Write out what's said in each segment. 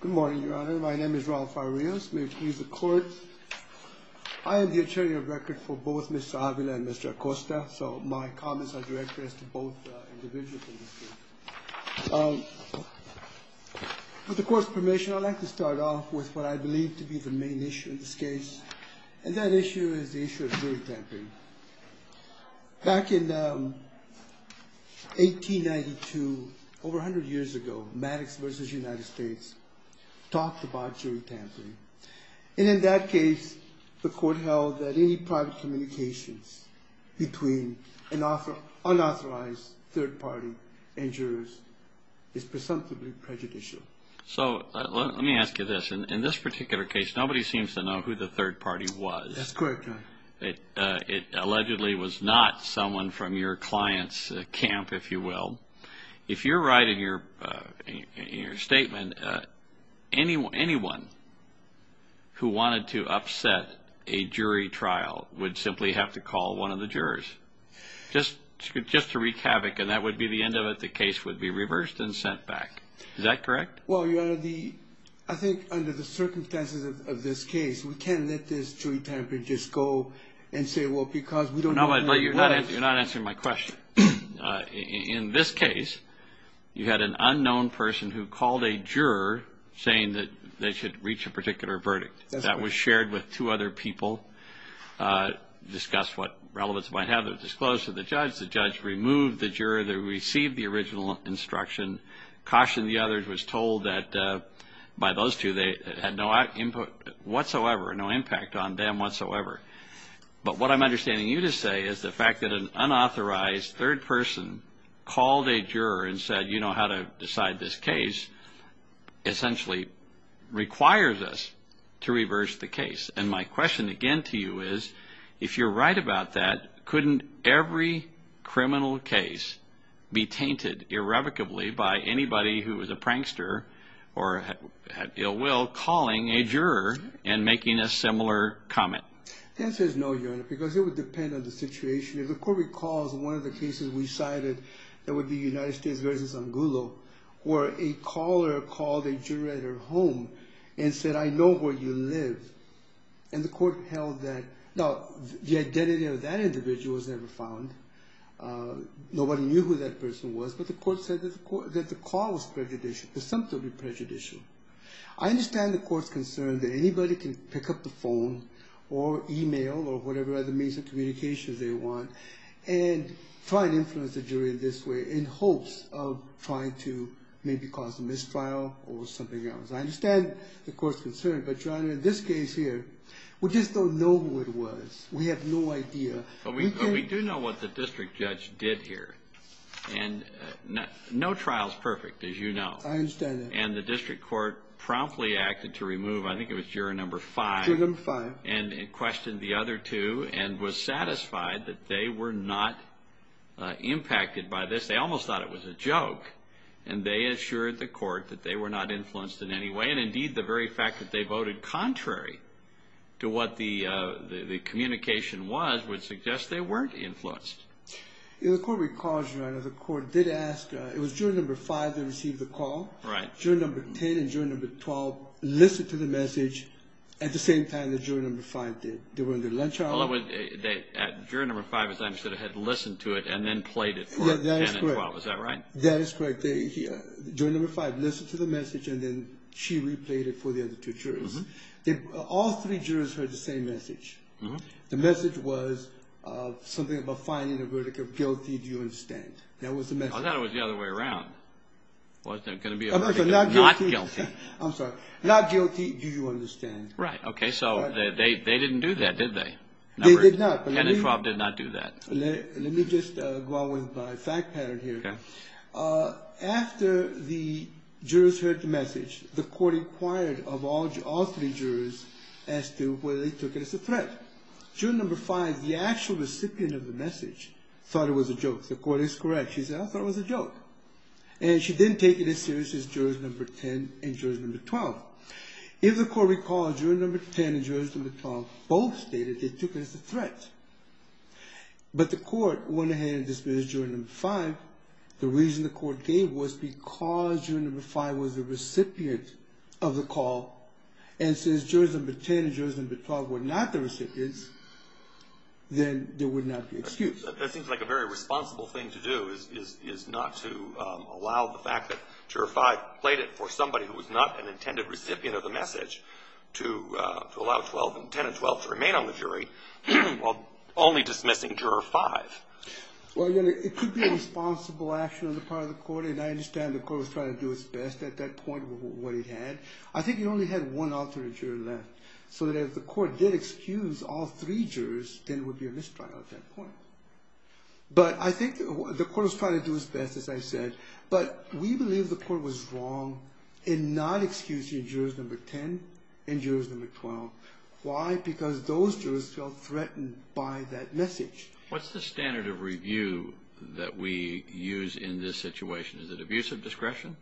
Good morning, Your Honor. My name is Rafael Rios. May it please the Court, I am the attorney of record for both Mr. Avila and Mr. Acosta, so my comments are directed as to both individuals in this case. With the Court's permission, I'd like to start off with what I believe to be the main issue in this case, and that issue is the issue of jury tampering. Back in 1892, over 100 years ago, Maddox v. United States talked about jury tampering, and in that case, the Court held that any private communications between an unauthorized third party and jurors is presumptively prejudicial. So, let me ask you this. In this particular case, nobody seems to know who the third party was. That's correct, Your Honor. It allegedly was not someone from your client's camp, if you will. If you're right in your statement, anyone who wanted to upset a jury trial would simply have to call one of the jurors, just to wreak havoc, and that would be the end of it. The case would be reversed and sent back. Is that correct? Well, Your Honor, I think under the circumstances of this case, we can't let this jury tampering just go and say, well, because we don't know who it was. No, but you're not answering my question. In this case, you had an unknown person who called a juror, saying that they should reach a particular verdict. That's correct. The jury tried with two other people, discussed what relevance it might have. It was disclosed to the judge. The judge removed the juror that received the original instruction, cautioned the others, was told that by those two they had no input whatsoever, no impact on them whatsoever. But what I'm understanding you to say is the fact that an unauthorized third person called a juror and said, you know how to decide this case, essentially requires us to reverse the case. And my question again to you is, if you're right about that, couldn't every criminal case be tainted irrevocably by anybody who was a prankster or had ill will calling a juror and making a similar comment? The answer is no, Your Honor, because it would depend on the situation. If the court recalls one of the cases we cited, that would be United States v. Angulo, where a caller called a juror at her home and said, I know where you live. And the court held that. Now, the identity of that individual was never found. Nobody knew who that person was, but the court said that the call was presumptively prejudicial. I understand the court's concern that anybody can pick up the phone or e-mail or whatever other means of communication they want and try to influence the jury in this way in hopes of trying to maybe cause a mistrial or something else. I understand the court's concern. But, Your Honor, in this case here, we just don't know who it was. We have no idea. But we do know what the district judge did here. And no trial is perfect, as you know. I understand that. And the district court promptly acted to remove, I think it was juror No. 5. Juror No. 5. And questioned the other two and was satisfied that they were not impacted by this. They almost thought it was a joke. And they assured the court that they were not influenced in any way. And, indeed, the very fact that they voted contrary to what the communication was would suggest they weren't influenced. The court recalls, Your Honor, the court did ask, it was juror No. 5 that received the call. Right. Juror No. 10 and juror No. 12 listened to the message at the same time that juror No. 5 did. They were in their lunch hour. In other words, juror No. 5, as I understand it, had listened to it and then played it for 10 and 12. Is that right? That is correct. Juror No. 5 listened to the message and then she replayed it for the other two jurors. All three jurors heard the same message. The message was something about finding a verdict of guilty, do you understand? That was the message. I thought it was the other way around. Was there going to be a verdict of not guilty? I'm sorry. Not guilty, do you understand? Right. Okay. So they didn't do that, did they? They did not. 10 and 12 did not do that. Let me just go on with my fact pattern here. Okay. After the jurors heard the message, the court inquired of all three jurors as to whether they took it as a threat. Juror No. 5, the actual recipient of the message, thought it was a joke. The court is correct. She said, I thought it was a joke. And she didn't take it as serious as jurors No. 10 and 12. If the court recalls, juror No. 10 and 12 both stated they took it as a threat. But the court went ahead and dismissed juror No. 5. The reason the court gave was because juror No. 5 was the recipient of the call. And since jurors No. 10 and 12 were not the recipients, then there would not be an excuse. That seems like a very responsible thing to do is not to allow the fact that juror No. 5 played it for somebody who was not an intended recipient of the message, to allow No. 10 and 12 to remain on the jury while only dismissing juror No. 5. Well, again, it could be a responsible action on the part of the court, and I understand the court was trying to do its best at that point with what it had. I think it only had one alternate juror left, so that if the court did excuse all three jurors, then it would be a mistrial at that point. But I think the court was trying to do its best, as I said. But we believe the court was wrong in not excusing jurors No. 10 and jurors No. 12. Why? Because those jurors felt threatened by that message. What's the standard of review that we use in this situation? Is it abusive discretion?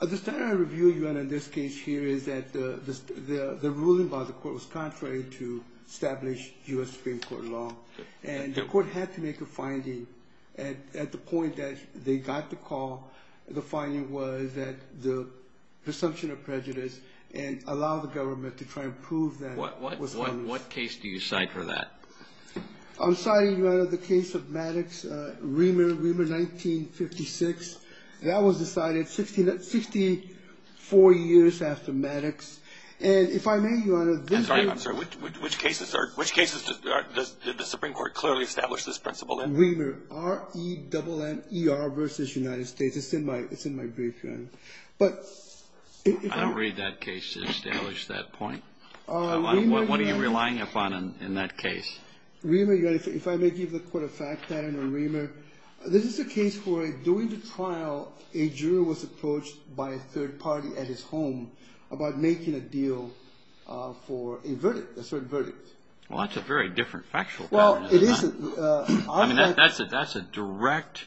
The standard of review, Your Honor, in this case here is that the ruling by the court was contrary to established U.S. Supreme Court law. And the court had to make a finding at the point that they got the call. The finding was that the presumption of prejudice and allowing the government to try and prove that was wrong. What case do you cite for that? I'm citing, Your Honor, the case of Maddox-Reamer, Reamer 1956. That was decided 64 years after Maddox. And if I may, Your Honor, this is the one. I'm sorry. Which cases did the Supreme Court clearly establish this principle in? Reamer, R-E-M-M-E-R versus United States. It's in my brief, Your Honor. I don't read that case to establish that point. What are you relying upon in that case? Reamer, if I may give the court a fact pattern on Reamer, this is a case where during the trial, a juror was approached by a third party at his home about making a deal for a verdict, a certain verdict. Well, that's a very different factual pattern, isn't it? Well, it is. I mean, that's a direct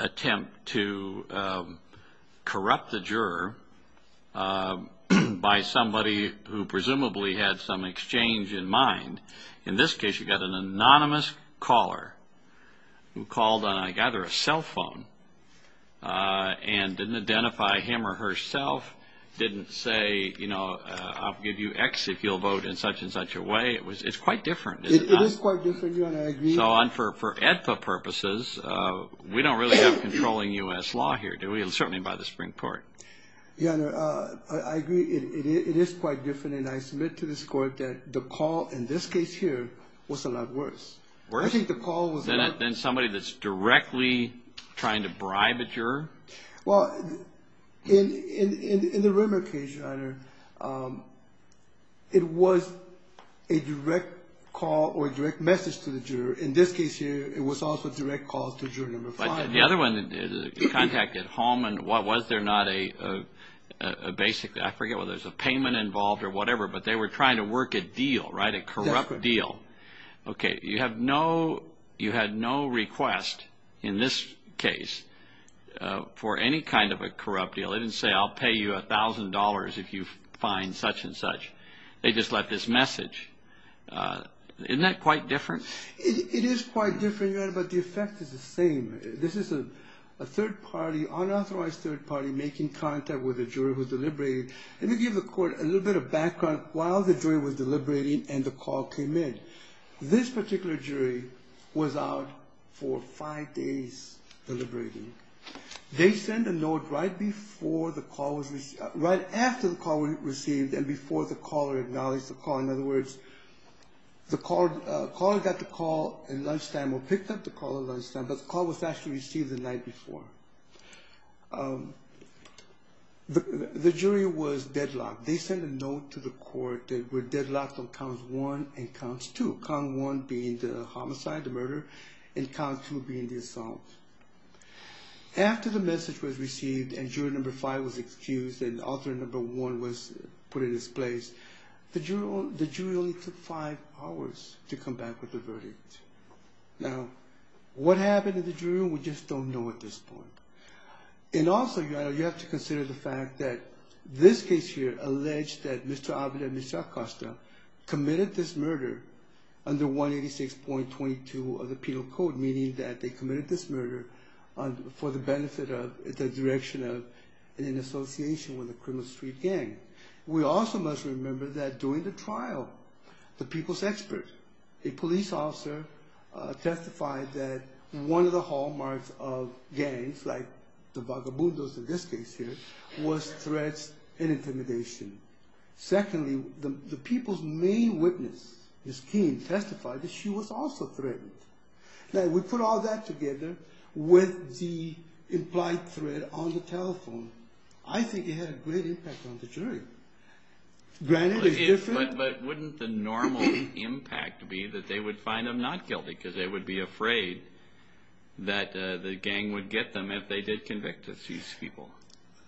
attempt to corrupt the juror by somebody who presumably had some exchange in mind. In this case, you've got an anonymous caller who called on either a cell phone and didn't identify him or herself, didn't say, you know, I'll give you X if you'll vote in such and such a way. It's quite different. It is quite different, Your Honor. I agree. So for AEDPA purposes, we don't really have controlling U.S. law here, do we? Certainly not by the Supreme Court. Your Honor, I agree it is quite different, and I submit to this court that the call in this case here was a lot worse. Worse? I think the call was worse. Than somebody that's directly trying to bribe a juror? Well, in the Rimmer case, Your Honor, it was a direct call or a direct message to the juror. In this case here, it was also direct calls to juror number five. But the other one, the contact at home, and was there not a basic, I forget whether there's a payment involved or whatever, but they were trying to work a deal, right, a corrupt deal. That's correct. Okay, you had no request in this case for any kind of a corrupt deal. They didn't say, I'll pay you $1,000 if you find such and such. They just left this message. Isn't that quite different? It is quite different, Your Honor, but the effect is the same. This is a third party, unauthorized third party, making contact with a juror who deliberated. Let me give the court a little bit of background while the jury was deliberating and the call came in. This particular jury was out for five days deliberating. They sent a note right after the call was received and before the caller acknowledged the call. In other words, the caller got the call at lunchtime or picked up the call at lunchtime, but the call was actually received the night before. The jury was deadlocked. They sent a note to the court that we're deadlocked on counts one and counts two, count one being the homicide, the murder, and count two being the assault. After the message was received and juror number five was excused and author number one was put in his place, the jury only took five hours to come back with the verdict. Now, what happened to the jury, we just don't know at this point. And also, Your Honor, you have to consider the fact that this case here alleged that Mr. Avila and Mr. Acosta committed this murder under 186.22 of the Penal Code, meaning that they committed this murder for the benefit of the direction of an association with a criminal street gang. We also must remember that during the trial, the people's expert, a police officer, testified that one of the hallmarks of gangs, like the vagabundos in this case here, was threats and intimidation. Secondly, the people's main witness, Ms. King, testified that she was also threatened. Now, we put all that together with the implied threat on the telephone. I think it had a great impact on the jury. But wouldn't the normal impact be that they would find them not guilty because they would be afraid that the gang would get them if they did convict these people?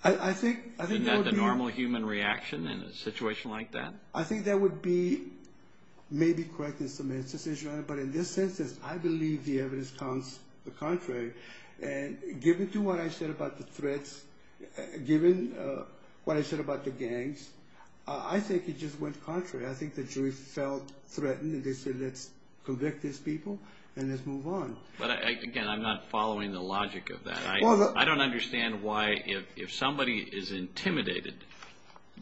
Isn't that the normal human reaction in a situation like that? I think that would be maybe correct in some instances, Your Honor, but in this instance, I believe the evidence counts the contrary. Given what I said about the threats, given what I said about the gangs, I think it just went contrary. I think the jury felt threatened and they said, let's convict these people and let's move on. But again, I'm not following the logic of that. I don't understand why if somebody is intimidated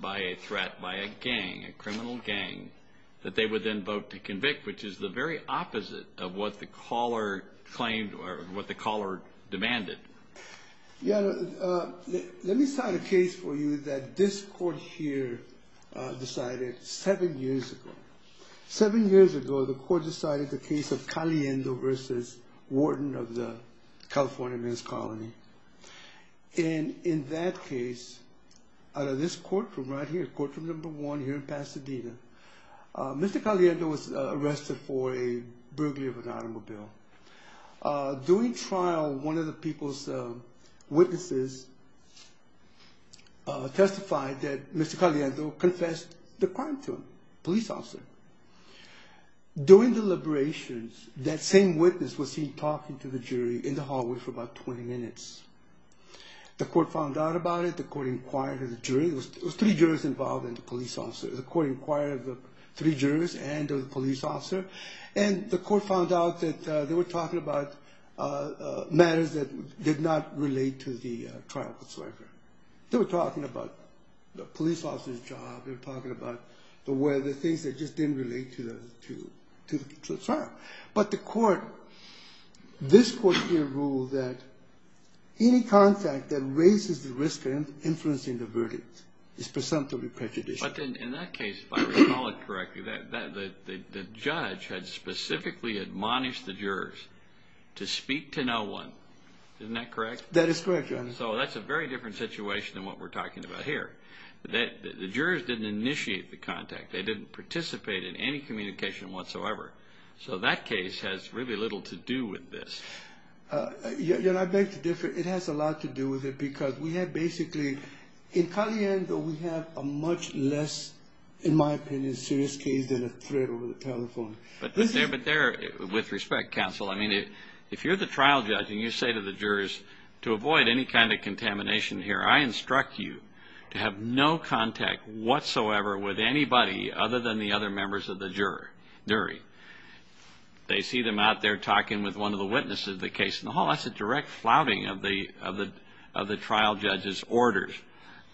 by a threat, by a gang, a criminal gang, that they would then vote to convict, which is the very opposite of what the caller claimed or what the caller demanded. Your Honor, let me cite a case for you that this court here decided seven years ago. Seven years ago, the court decided the case of Caliendo v. Warden of the California Men's Colony. And in that case, out of this courtroom right here, courtroom number one here in Pasadena, Mr. Caliendo was arrested for a burglary of an automobile. During trial, one of the people's witnesses testified that Mr. Caliendo confessed the crime to him, police officer. During deliberations, that same witness was seen talking to the jury in the hallway for about 20 minutes. The court found out about it. The court inquired of the jury. It was three jurors involved and the police officer. The court inquired of the three jurors and of the police officer. And the court found out that they were talking about matters that did not relate to the trial. They were talking about the police officer's job. They were talking about the things that just didn't relate to the trial. But the court, this court here, ruled that any contact that raises the risk of influencing the verdict is presumptively prejudicial. But in that case, if I recall it correctly, the judge had specifically admonished the jurors to speak to no one. Isn't that correct? That is correct, Your Honor. So that's a very different situation than what we're talking about here. The jurors didn't initiate the contact. They didn't participate in any communication whatsoever. So that case has really little to do with this. Your Honor, I beg to differ. It has a lot to do with it because we have basically, in Caliendo, we have a much less, in my opinion, serious case than a threat over the telephone. But there, with respect, counsel, I mean, if you're the trial judge and you say to the jurors, to avoid any kind of contamination here, I instruct you to have no contact whatsoever with anybody other than the other members of the jury. They see them out there talking with one of the witnesses of the case, and, oh, that's a direct flouting of the trial judge's orders.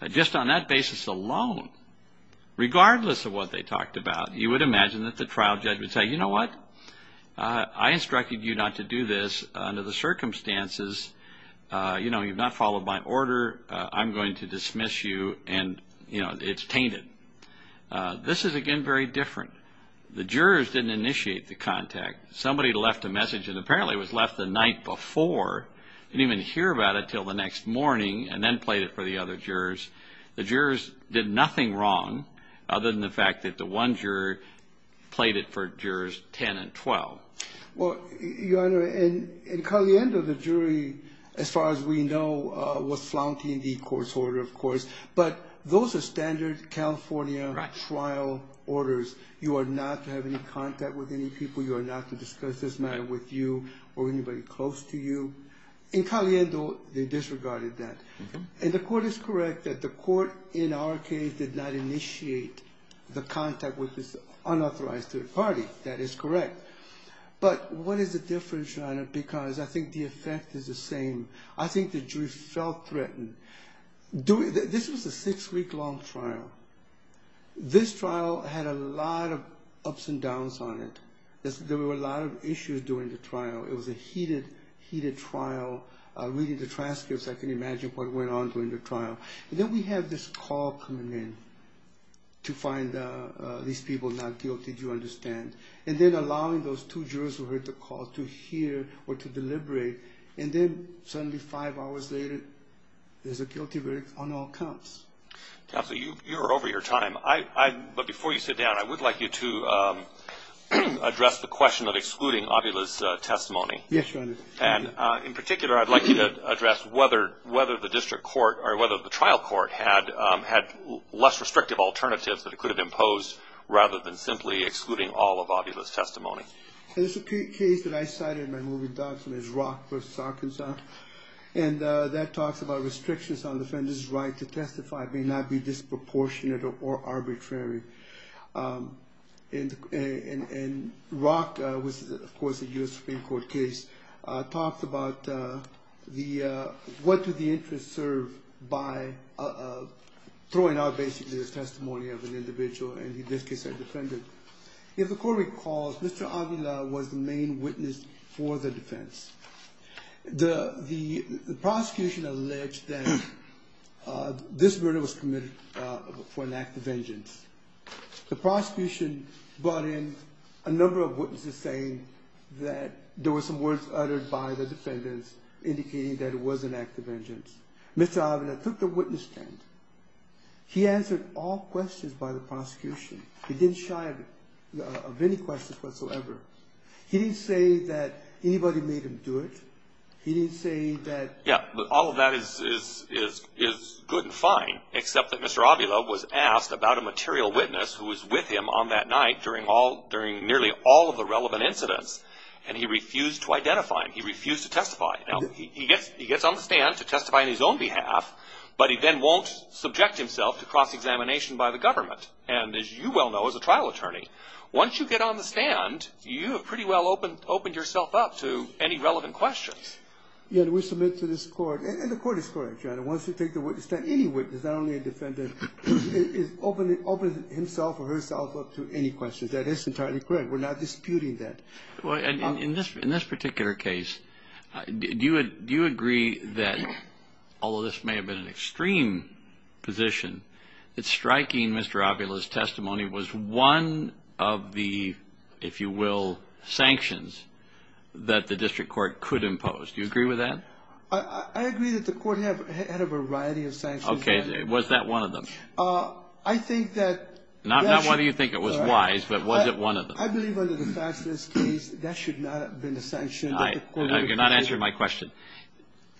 Just on that basis alone, regardless of what they talked about, you would imagine that the trial judge would say, you know what? I instructed you not to do this under the circumstances. You know, you've not followed my order. I'm going to dismiss you, and, you know, it's tainted. This is, again, very different. The jurors didn't initiate the contact. Somebody left a message, and apparently it was left the night before. Didn't even hear about it until the next morning and then played it for the other jurors. The jurors did nothing wrong other than the fact that the one juror played it for jurors 10 and 12. Well, Your Honor, in Caliendo, the jury, as far as we know, was flouting the court's order, of course. But those are standard California trial orders. You are not to have any contact with any people. You are not to discuss this matter with you or anybody close to you. In Caliendo, they disregarded that. And the court is correct that the court, in our case, did not initiate the contact with this unauthorized third party. That is correct. But what is the difference, Your Honor, because I think the effect is the same. I think the jury felt threatened. This was a six-week-long trial. This trial had a lot of ups and downs on it. There were a lot of issues during the trial. It was a heated, heated trial. Reading the transcripts, I can imagine what went on during the trial. And then we have this call coming in to find these people not guilty, do you understand? And then allowing those two jurors who heard the call to hear or to deliberate. And then, suddenly, five hours later, there's a guilty verdict on all counts. Counsel, you are over your time. But before you sit down, I would like you to address the question of excluding Ovilus' testimony. Yes, Your Honor. And, in particular, I'd like you to address whether the district court or whether the trial court had less restrictive alternatives that it could have imposed rather than simply excluding all of Ovilus' testimony. There's a case that I cited in my moving documents, Rock v. Arkansas, and that talks about restrictions on defendants' right to testify may not be disproportionate or arbitrary. And Rock, which is, of course, a U.S. Supreme Court case, talks about what do the interests serve by throwing out, basically, the testimony of an individual, and in this case, a defendant. If the court recalls, Mr. Avila was the main witness for the defense. The prosecution alleged that this murder was committed for an act of vengeance. The prosecution brought in a number of witnesses saying that there were some words uttered by the defendants indicating that it was an act of vengeance. Mr. Avila took the witness stand. He answered all questions by the prosecution. He didn't shy of any questions whatsoever. He didn't say that anybody made him do it. He didn't say that... Yeah, but all of that is good and fine, except that Mr. Avila was asked about a material witness who was with him on that night during nearly all of the relevant incidents, and he refused to identify him. He refused to testify. Now, he gets on the stand to testify on his own behalf, but he then won't subject himself to cross-examination by the government, and, as you well know as a trial attorney, once you get on the stand, you have pretty well opened yourself up to any relevant questions. Yeah, and we submit to this court, and the court is correct, John. Once you take the witness stand, any witness, not only a defendant, opens himself or herself up to any questions. That is entirely correct. We're not disputing that. In this particular case, do you agree that, although this may have been an extreme position, that striking Mr. Avila's testimony was one of the, if you will, sanctions that the district court could impose? Do you agree with that? I agree that the court had a variety of sanctions. Okay. Was that one of them? I think that... Not whether you think it was wise, but was it one of them? I believe, under the facts of this case, that should not have been a sanction. You're not answering my question.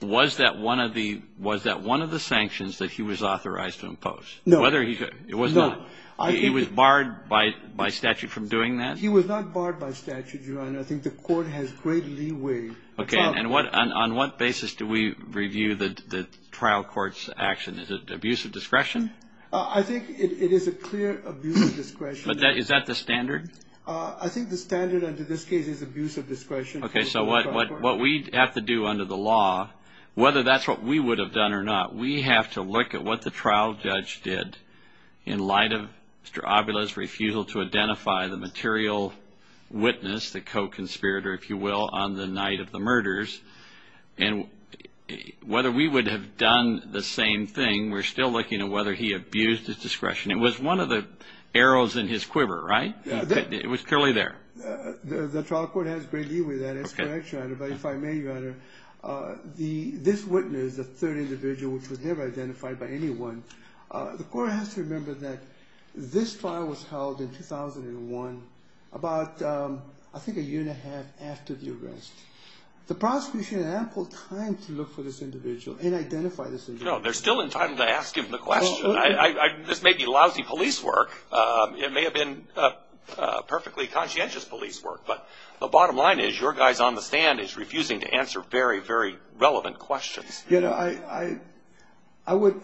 Was that one of the sanctions that he was authorized to impose? No. It was not? No. He was barred by statute from doing that? He was not barred by statute, Your Honor. I think the court has great leeway. Okay, and on what basis do we review the trial court's action? Is it abuse of discretion? I think it is a clear abuse of discretion. Is that the standard? I think the standard under this case is abuse of discretion. Okay, so what we have to do under the law, whether that's what we would have done or not, we have to look at what the trial judge did in light of Mr. Avila's refusal to identify the material witness, the co-conspirator, if you will, on the night of the murders. And whether we would have done the same thing, we're still looking at whether he abused his discretion. It was one of the arrows in his quiver, right? It was clearly there. The trial court has great leeway with that, but if I may, Your Honor, this witness, the third individual, which was never identified by anyone, the court has to remember that this trial was held in 2001, about I think a year and a half after the arrest. The prosecution had ample time to look for this individual and identify this individual. No, they're still in time to ask him the question. This may be lousy police work. It may have been perfectly conscientious police work, but the bottom line is your guy's on the stand is refusing to answer very, very relevant questions. You know, I would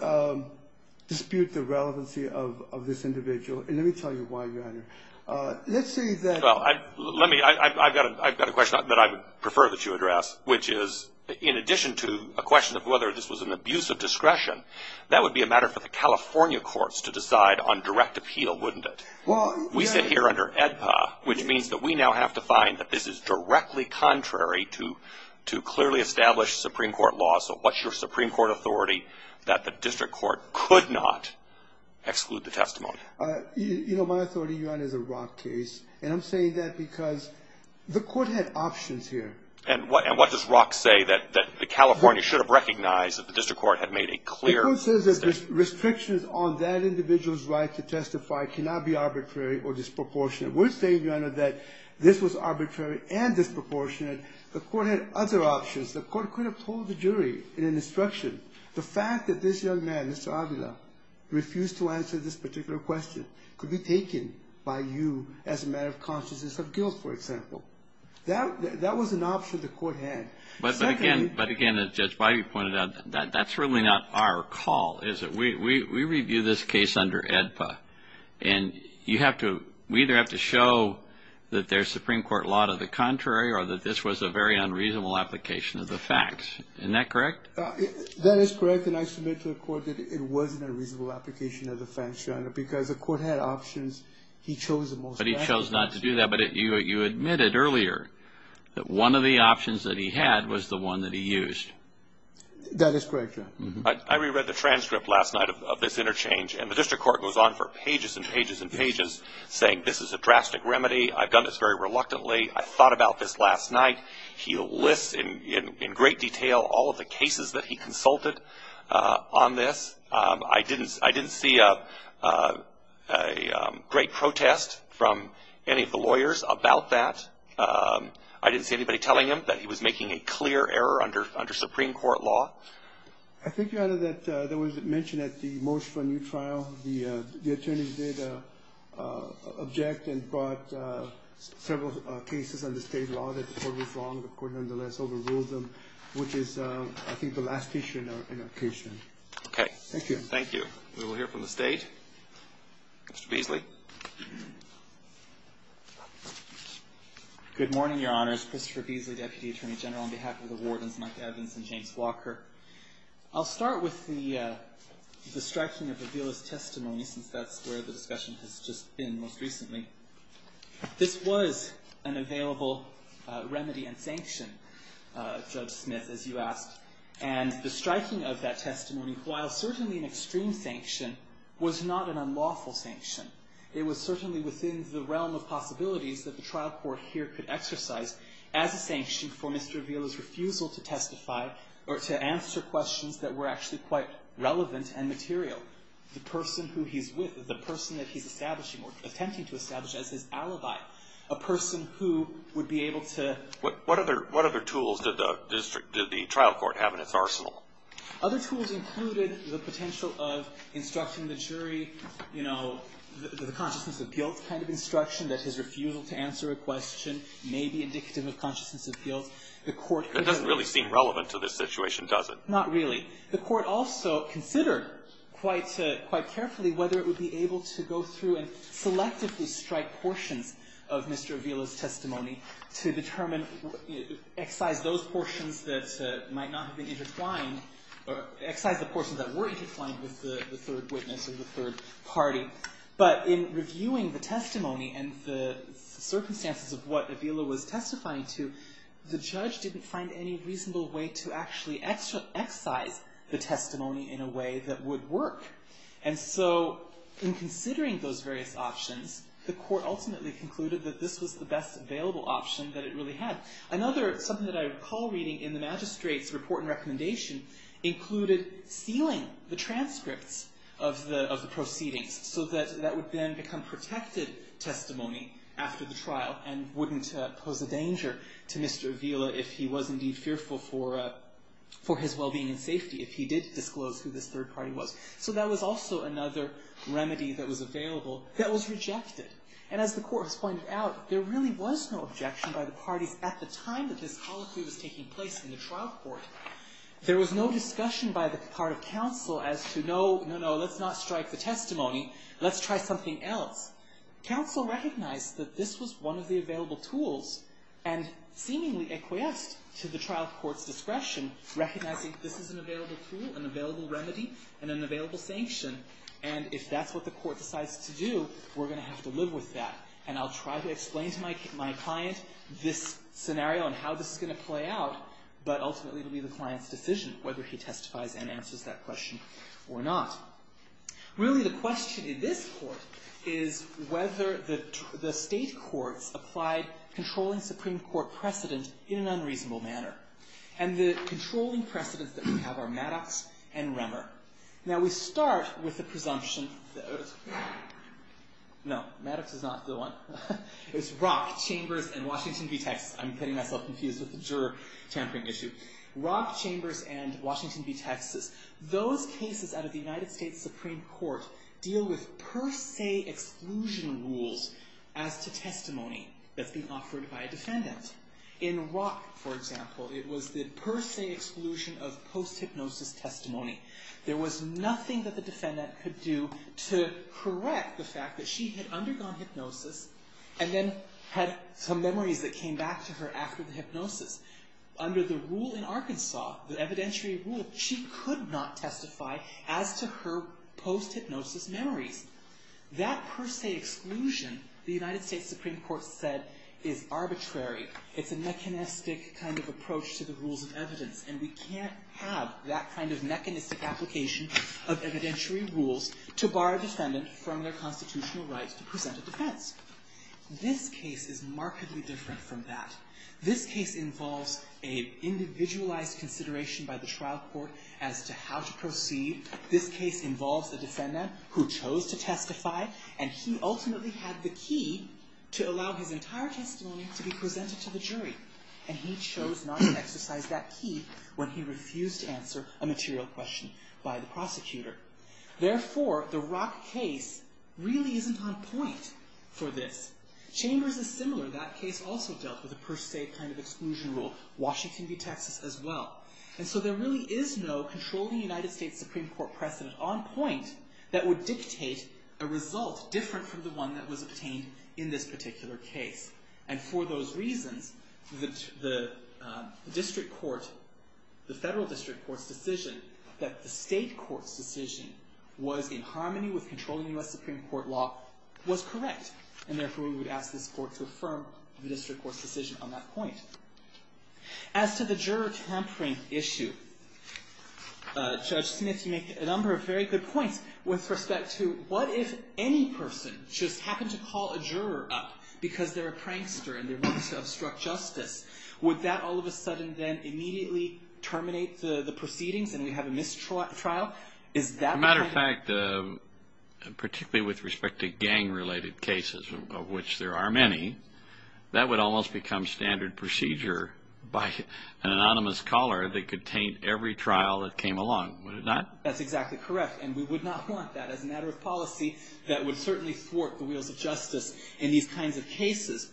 dispute the relevancy of this individual, and let me tell you why, Your Honor. Let's say that – Well, let me – I've got a question that I would prefer that you address, which is in addition to a question of whether this was an abuse of discretion, that would be a matter for the California courts to decide on direct appeal, wouldn't it? We sit here under AEDPA, which means that we now have to find that this is directly contrary to clearly established Supreme Court laws. So what's your Supreme Court authority that the district court could not exclude the testimony? You know, my authority, Your Honor, is a Rock case, and I'm saying that because the court had options here. And what does Rock say that the California should have recognized that the district court had made a clear statement? The court says that restrictions on that individual's right to testify cannot be arbitrary or disproportionate. We're saying, Your Honor, that this was arbitrary and disproportionate. The court had other options. The court could have told the jury in an instruction the fact that this young man, Mr. Avila, refused to answer this particular question could be taken by you as a matter of consciousness of guilt, for example. That was an option the court had. But again, as Judge Bidey pointed out, that's really not our call, is it? We review this case under AEDPA, and you have to – we either have to show that there's Supreme Court law to the contrary or that this was a very unreasonable application of the facts. Isn't that correct? That is correct, and I submit to the court that it was an unreasonable application of the facts, Your Honor, because the court had options. But he chose not to do that, but you admitted earlier that one of the options that he had was the one that he used. That is correct, Your Honor. I reread the transcript last night of this interchange, and the district court goes on for pages and pages and pages saying this is a drastic remedy. I've done this very reluctantly. I thought about this last night. He lists in great detail all of the cases that he consulted on this. I didn't see a great protest from any of the lawyers about that. I didn't see anybody telling him that he was making a clear error under Supreme Court law. I think, Your Honor, that there was mention at the motion for a new trial, the attorneys did object and brought several cases under state law that the court was wrong. The court, nonetheless, overruled them, which is, I think, the last issue in our case. Okay. Thank you. Thank you. We will hear from the State. Mr. Beasley. Good morning, Your Honors. Christopher Beasley, Deputy Attorney General, on behalf of the Wardens Mike Evans and James Walker. I'll start with the striking of Avila's testimony, since that's where the discussion has just been most recently. This was an available remedy and sanction, Judge Smith, as you asked, and the striking of that testimony, while certainly an extreme sanction, was not an unlawful sanction. It was certainly within the realm of possibilities that the trial court here could exercise as a sanction for Mr. Avila's refusal to testify or to answer questions that were actually quite relevant and material. The person who he's with, the person that he's establishing or attempting to establish as his alibi, a person who would be able to… Other tools included the potential of instructing the jury, you know, the consciousness of guilt kind of instruction that his refusal to answer a question may be indicative of consciousness of guilt. The court could… That doesn't really seem relevant to this situation, does it? Not really. The court also considered quite carefully whether it would be able to go through and selectively strike portions of Mr. Avila's testimony to determine, excise those portions that might not have been intertwined, excise the portions that were intertwined with the third witness or the third party. But in reviewing the testimony and the circumstances of what Avila was testifying to, the judge didn't find any reasonable way to actually excise the testimony in a way that would work. And so, in considering those various options, the court ultimately concluded that this was the best available option that it really had. Another, something that I recall reading in the magistrate's report and recommendation, included sealing the transcripts of the proceedings so that that would then become protected testimony after the trial and wouldn't pose a danger to Mr. Avila if he was indeed fearful for his well-being and safety, if he did disclose who this third party was. So that was also another remedy that was available that was rejected. And as the court has pointed out, there really was no objection by the parties at the time that this colloquy was taking place in the trial court. There was no discussion by the part of counsel as to, no, no, no, let's not strike the testimony. Let's try something else. Counsel recognized that this was one of the available tools and seemingly acquiesced to the trial court's discretion, recognizing this is an available tool, an available remedy, and an available sanction. And if that's what the court decides to do, we're going to have to live with that. And I'll try to explain to my client this scenario and how this is going to play out, but ultimately it will be the client's decision whether he testifies and answers that question or not. Really, the question in this court is whether the state courts applied controlling Supreme Court precedent in an unreasonable manner. And the controlling precedents that we have are Maddox and Remmer. Now we start with the presumption that, no, Maddox is not the one. It's Rock, Chambers, and Washington v. Texas. I'm getting myself confused with the juror tampering issue. Rock, Chambers, and Washington v. Texas. Those cases out of the United States Supreme Court deal with per se exclusion rules as to testimony that's being offered by a defendant. In Rock, for example, it was the per se exclusion of post-hypnosis testimony. There was nothing that the defendant could do to correct the fact that she had undergone hypnosis and then had some memories that came back to her after the hypnosis. Under the rule in Arkansas, the evidentiary rule, she could not testify as to her post-hypnosis memories. That per se exclusion, the United States Supreme Court said, is arbitrary. It's a mechanistic kind of approach to the rules of evidence, and we can't have that kind of mechanistic application of evidentiary rules to bar a defendant from their constitutional rights to present a defense. This case is markedly different from that. This case involves an individualized consideration by the trial court as to how to proceed. This case involves the defendant who chose to testify, and he ultimately had the key to allow his entire testimony to be presented to the jury, and he chose not to exercise that key when he refused to answer a material question by the prosecutor. Therefore, the Rock case really isn't on point for this. Chambers is similar. That case also dealt with a per se kind of exclusion rule. Washington v. Texas as well. And so there really is no controlling United States Supreme Court precedent on point that would dictate a result different from the one that was obtained in this particular case. And for those reasons, the district court, the federal district court's decision that the state court's decision was in harmony with controlling U.S. Supreme Court law was correct, and therefore we would ask this court to affirm the district court's decision on that point. As to the juror tampering issue, Judge Smith, you make a number of very good points, with respect to what if any person just happened to call a juror up because they're a prankster and they want to obstruct justice? Would that all of a sudden then immediately terminate the proceedings and we have a mistrial trial? As a matter of fact, particularly with respect to gang-related cases, of which there are many, that would almost become standard procedure by an anonymous caller that could taint every trial that came along, would it not? That's exactly correct, and we would not want that as a matter of policy that would certainly thwart the wheels of justice in these kinds of cases.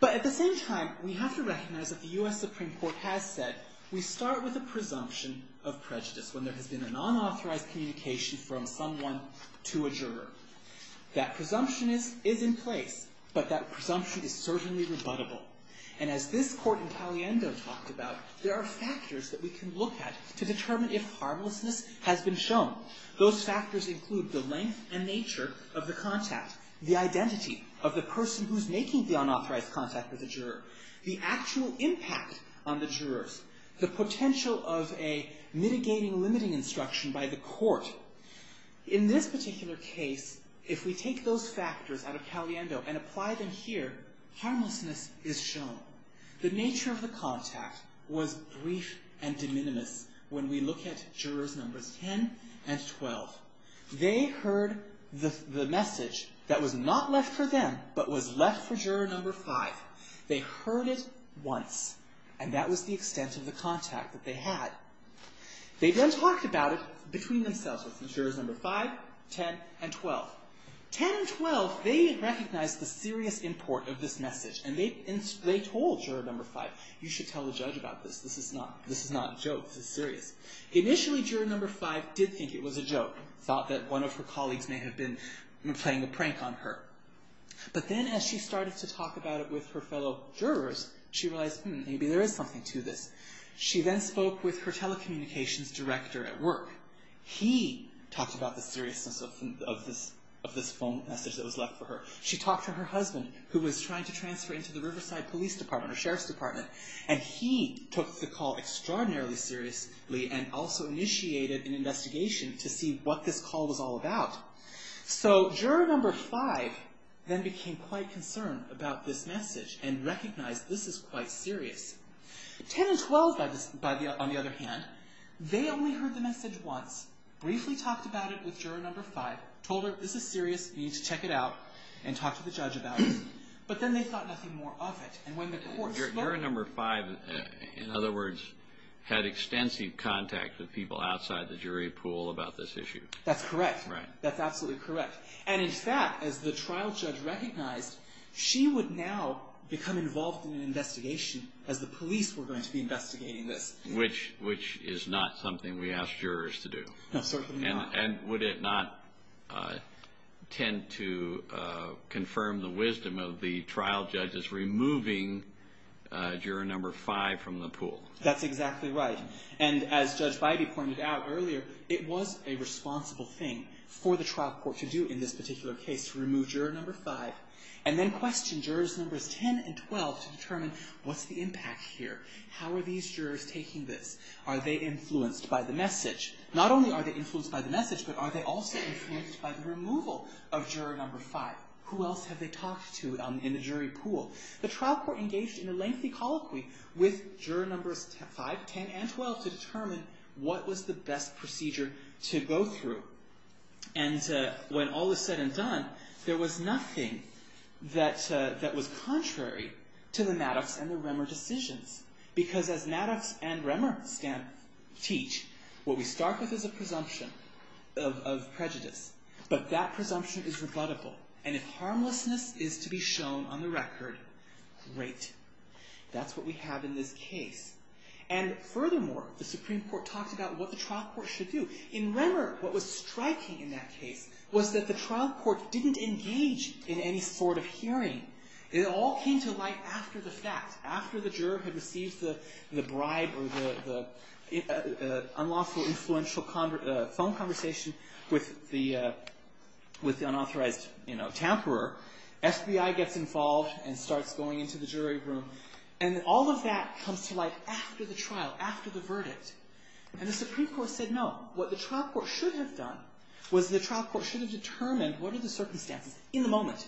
But at the same time, we have to recognize that the U.S. Supreme Court has said we start with a presumption of prejudice when there has been a non-authorized communication from someone to a juror. That presumption is in place, but that presumption is certainly rebuttable. And as this court in Paliendo talked about, there are factors that we can look at to determine if harmlessness has been shown. Those factors include the length and nature of the contact, the identity of the person who's making the unauthorized contact with the juror, the actual impact on the jurors, the potential of a mitigating limiting instruction by the court. In this particular case, if we take those factors out of Paliendo and apply them here, harmlessness is shown. The nature of the contact was brief and de minimis when we look at jurors numbers 10 and 12. They heard the message that was not left for them, but was left for juror number 5. They heard it once, and that was the extent of the contact that they had. They then talked about it between themselves with jurors number 5, 10, and 12. 10 and 12, they recognized the serious import of this message, and they told juror number 5, you should tell the judge about this. This is not a joke, this is serious. Initially, juror number 5 did think it was a joke, thought that one of her colleagues may have been playing a prank on her. But then as she started to talk about it with her fellow jurors, she realized, hmm, maybe there is something to this. She then spoke with her telecommunications director at work. He talked about the seriousness of this phone message that was left for her. She talked to her husband, who was trying to transfer into the Riverside Police Department, or Sheriff's Department, and he took the call extraordinarily seriously and also initiated an investigation to see what this call was all about. So, juror number 5 then became quite concerned about this message and recognized this is quite serious. 10 and 12, on the other hand, they only heard the message once, briefly talked about it with juror number 5, told her this is serious, you need to check it out, and talked to the judge about it. But then they thought nothing more of it. Juror number 5, in other words, had extensive contact with people outside the jury pool about this issue. That's correct. That's absolutely correct. And in fact, as the trial judge recognized, she would now become involved in an investigation as the police were going to be investigating this. Which is not something we ask jurors to do. No, certainly not. And would it not tend to confirm the wisdom of the trial judges removing juror number 5 from the pool? That's exactly right. And as Judge Beide pointed out earlier, it was a responsible thing for the trial court to do in this particular case, to remove juror number 5, and then question jurors numbers 10 and 12 to determine what's the impact here. How are these jurors taking this? Are they influenced by the message? Not only are they influenced by the message, but are they also influenced by the removal of juror number 5? Who else have they talked to in the jury pool? The trial court engaged in a lengthy colloquy with juror numbers 5, 10, and 12 to determine what was the best procedure to go through. And when all is said and done, there was nothing that was contrary to the Maddox and the Remmer decisions. Because as Maddox and Remmer teach, what we start with is a presumption of prejudice. But that presumption is rebuttable. And if harmlessness is to be shown on the record, great. That's what we have in this case. And furthermore, the Supreme Court talked about what the trial court should do. In Remmer, what was striking in that case was that the trial court didn't engage in any sort of hearing. It all came to light after the fact. After the juror had received the bribe or the unlawful influential phone conversation with the unauthorized tamperer, FBI gets involved and starts going into the jury room. And all of that comes to light after the trial, after the verdict. And the Supreme Court said no. What the trial court should have done was the trial court should have determined what are the circumstances in the moment.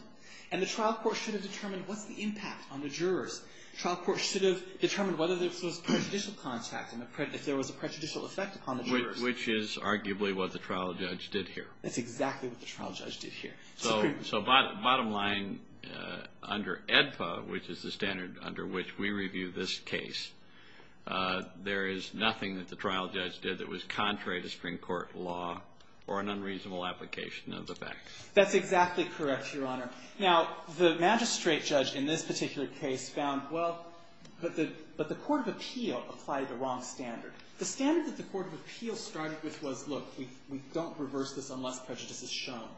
And the trial court should have determined what's the impact on the jurors. The trial court should have determined whether there was prejudicial contact and if there was a prejudicial effect upon the jurors. Which is arguably what the trial judge did here. That's exactly what the trial judge did here. So bottom line, under AEDPA, which is the standard under which we review this case, there is nothing that the trial judge did that was contrary to Supreme Court law or an unreasonable application of the facts. That's exactly correct, Your Honor. Now, the magistrate judge in this particular case found, well, but the Court of Appeal applied the wrong standard. The standard that the Court of Appeal started with was, look, we don't reverse this unless prejudice is shown.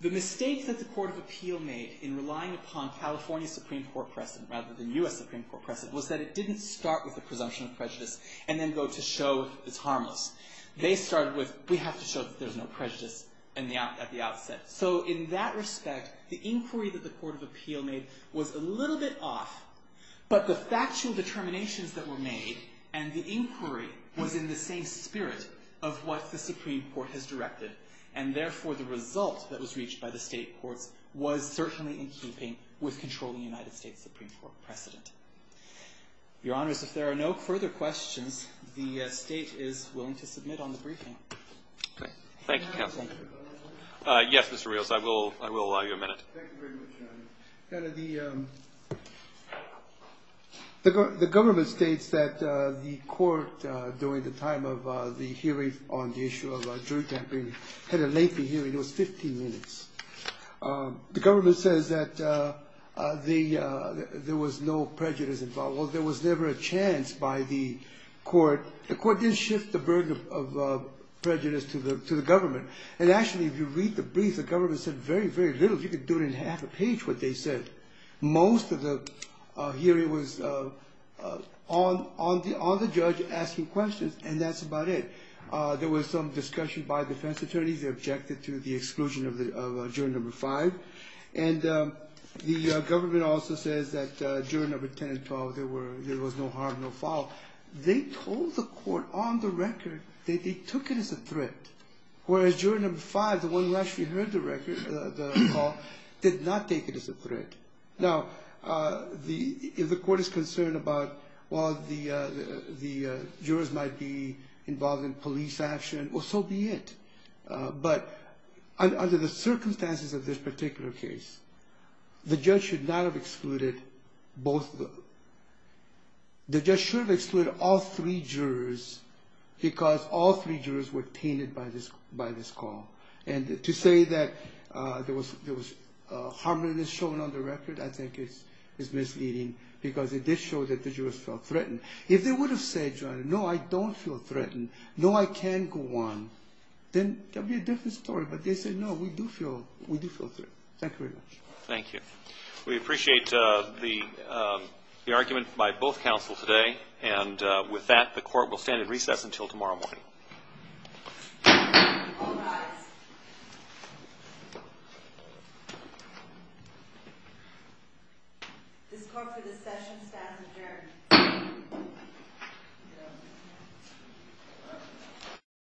The mistake that the Court of Appeal made in relying upon California Supreme Court precedent rather than U.S. Supreme Court precedent was that it didn't start with the presumption of prejudice and then go to show it's harmless. They started with, we have to show that there's no prejudice at the outset. So in that respect, the inquiry that the Court of Appeal made was a little bit off. But the factual determinations that were made and the inquiry was in the same spirit of what the Supreme Court has directed. And therefore, the result that was reached by the state courts was certainly in keeping with controlling United States Supreme Court precedent. Your Honors, if there are no further questions, the state is willing to submit on the briefing. Thank you, counsel. Yes, Mr. Rios, I will allow you a minute. Thank you very much, Your Honor. The government states that the court, during the time of the hearing on the issue of jury tampering, had a lengthy hearing. It was 15 minutes. The government says that there was no prejudice involved. Well, there was never a chance by the court. The court didn't shift the burden of prejudice to the government. And actually, if you read the brief, the government said very, very little. You could do it in half a page, what they said. Most of the hearing was on the judge asking questions. And that's about it. There was some discussion by defense attorneys. They objected to the exclusion of juror No. 5. And the government also says that juror No. 10 and 12, there was no harm, no foul. They told the court on the record that they took it as a threat. Whereas juror No. 5, the one who actually heard the call, did not take it as a threat. Now, the court is concerned about, well, the jurors might be involved in police action. Well, so be it. But under the circumstances of this particular case, the judge should not have excluded both of them. The judge should have excluded all three jurors because all three jurors were tainted by this call. And to say that there was harmlessness shown on the record, I think is misleading because it did show that the jurors felt threatened. If they would have said, no, I don't feel threatened, no, I can go on, then that would be a different story. But they said, no, we do feel threatened. Thank you very much. Thank you. We appreciate the argument by both counsel today. And with that, the court will stand at recess until tomorrow morning. All rise. This court for this session stands adjourned.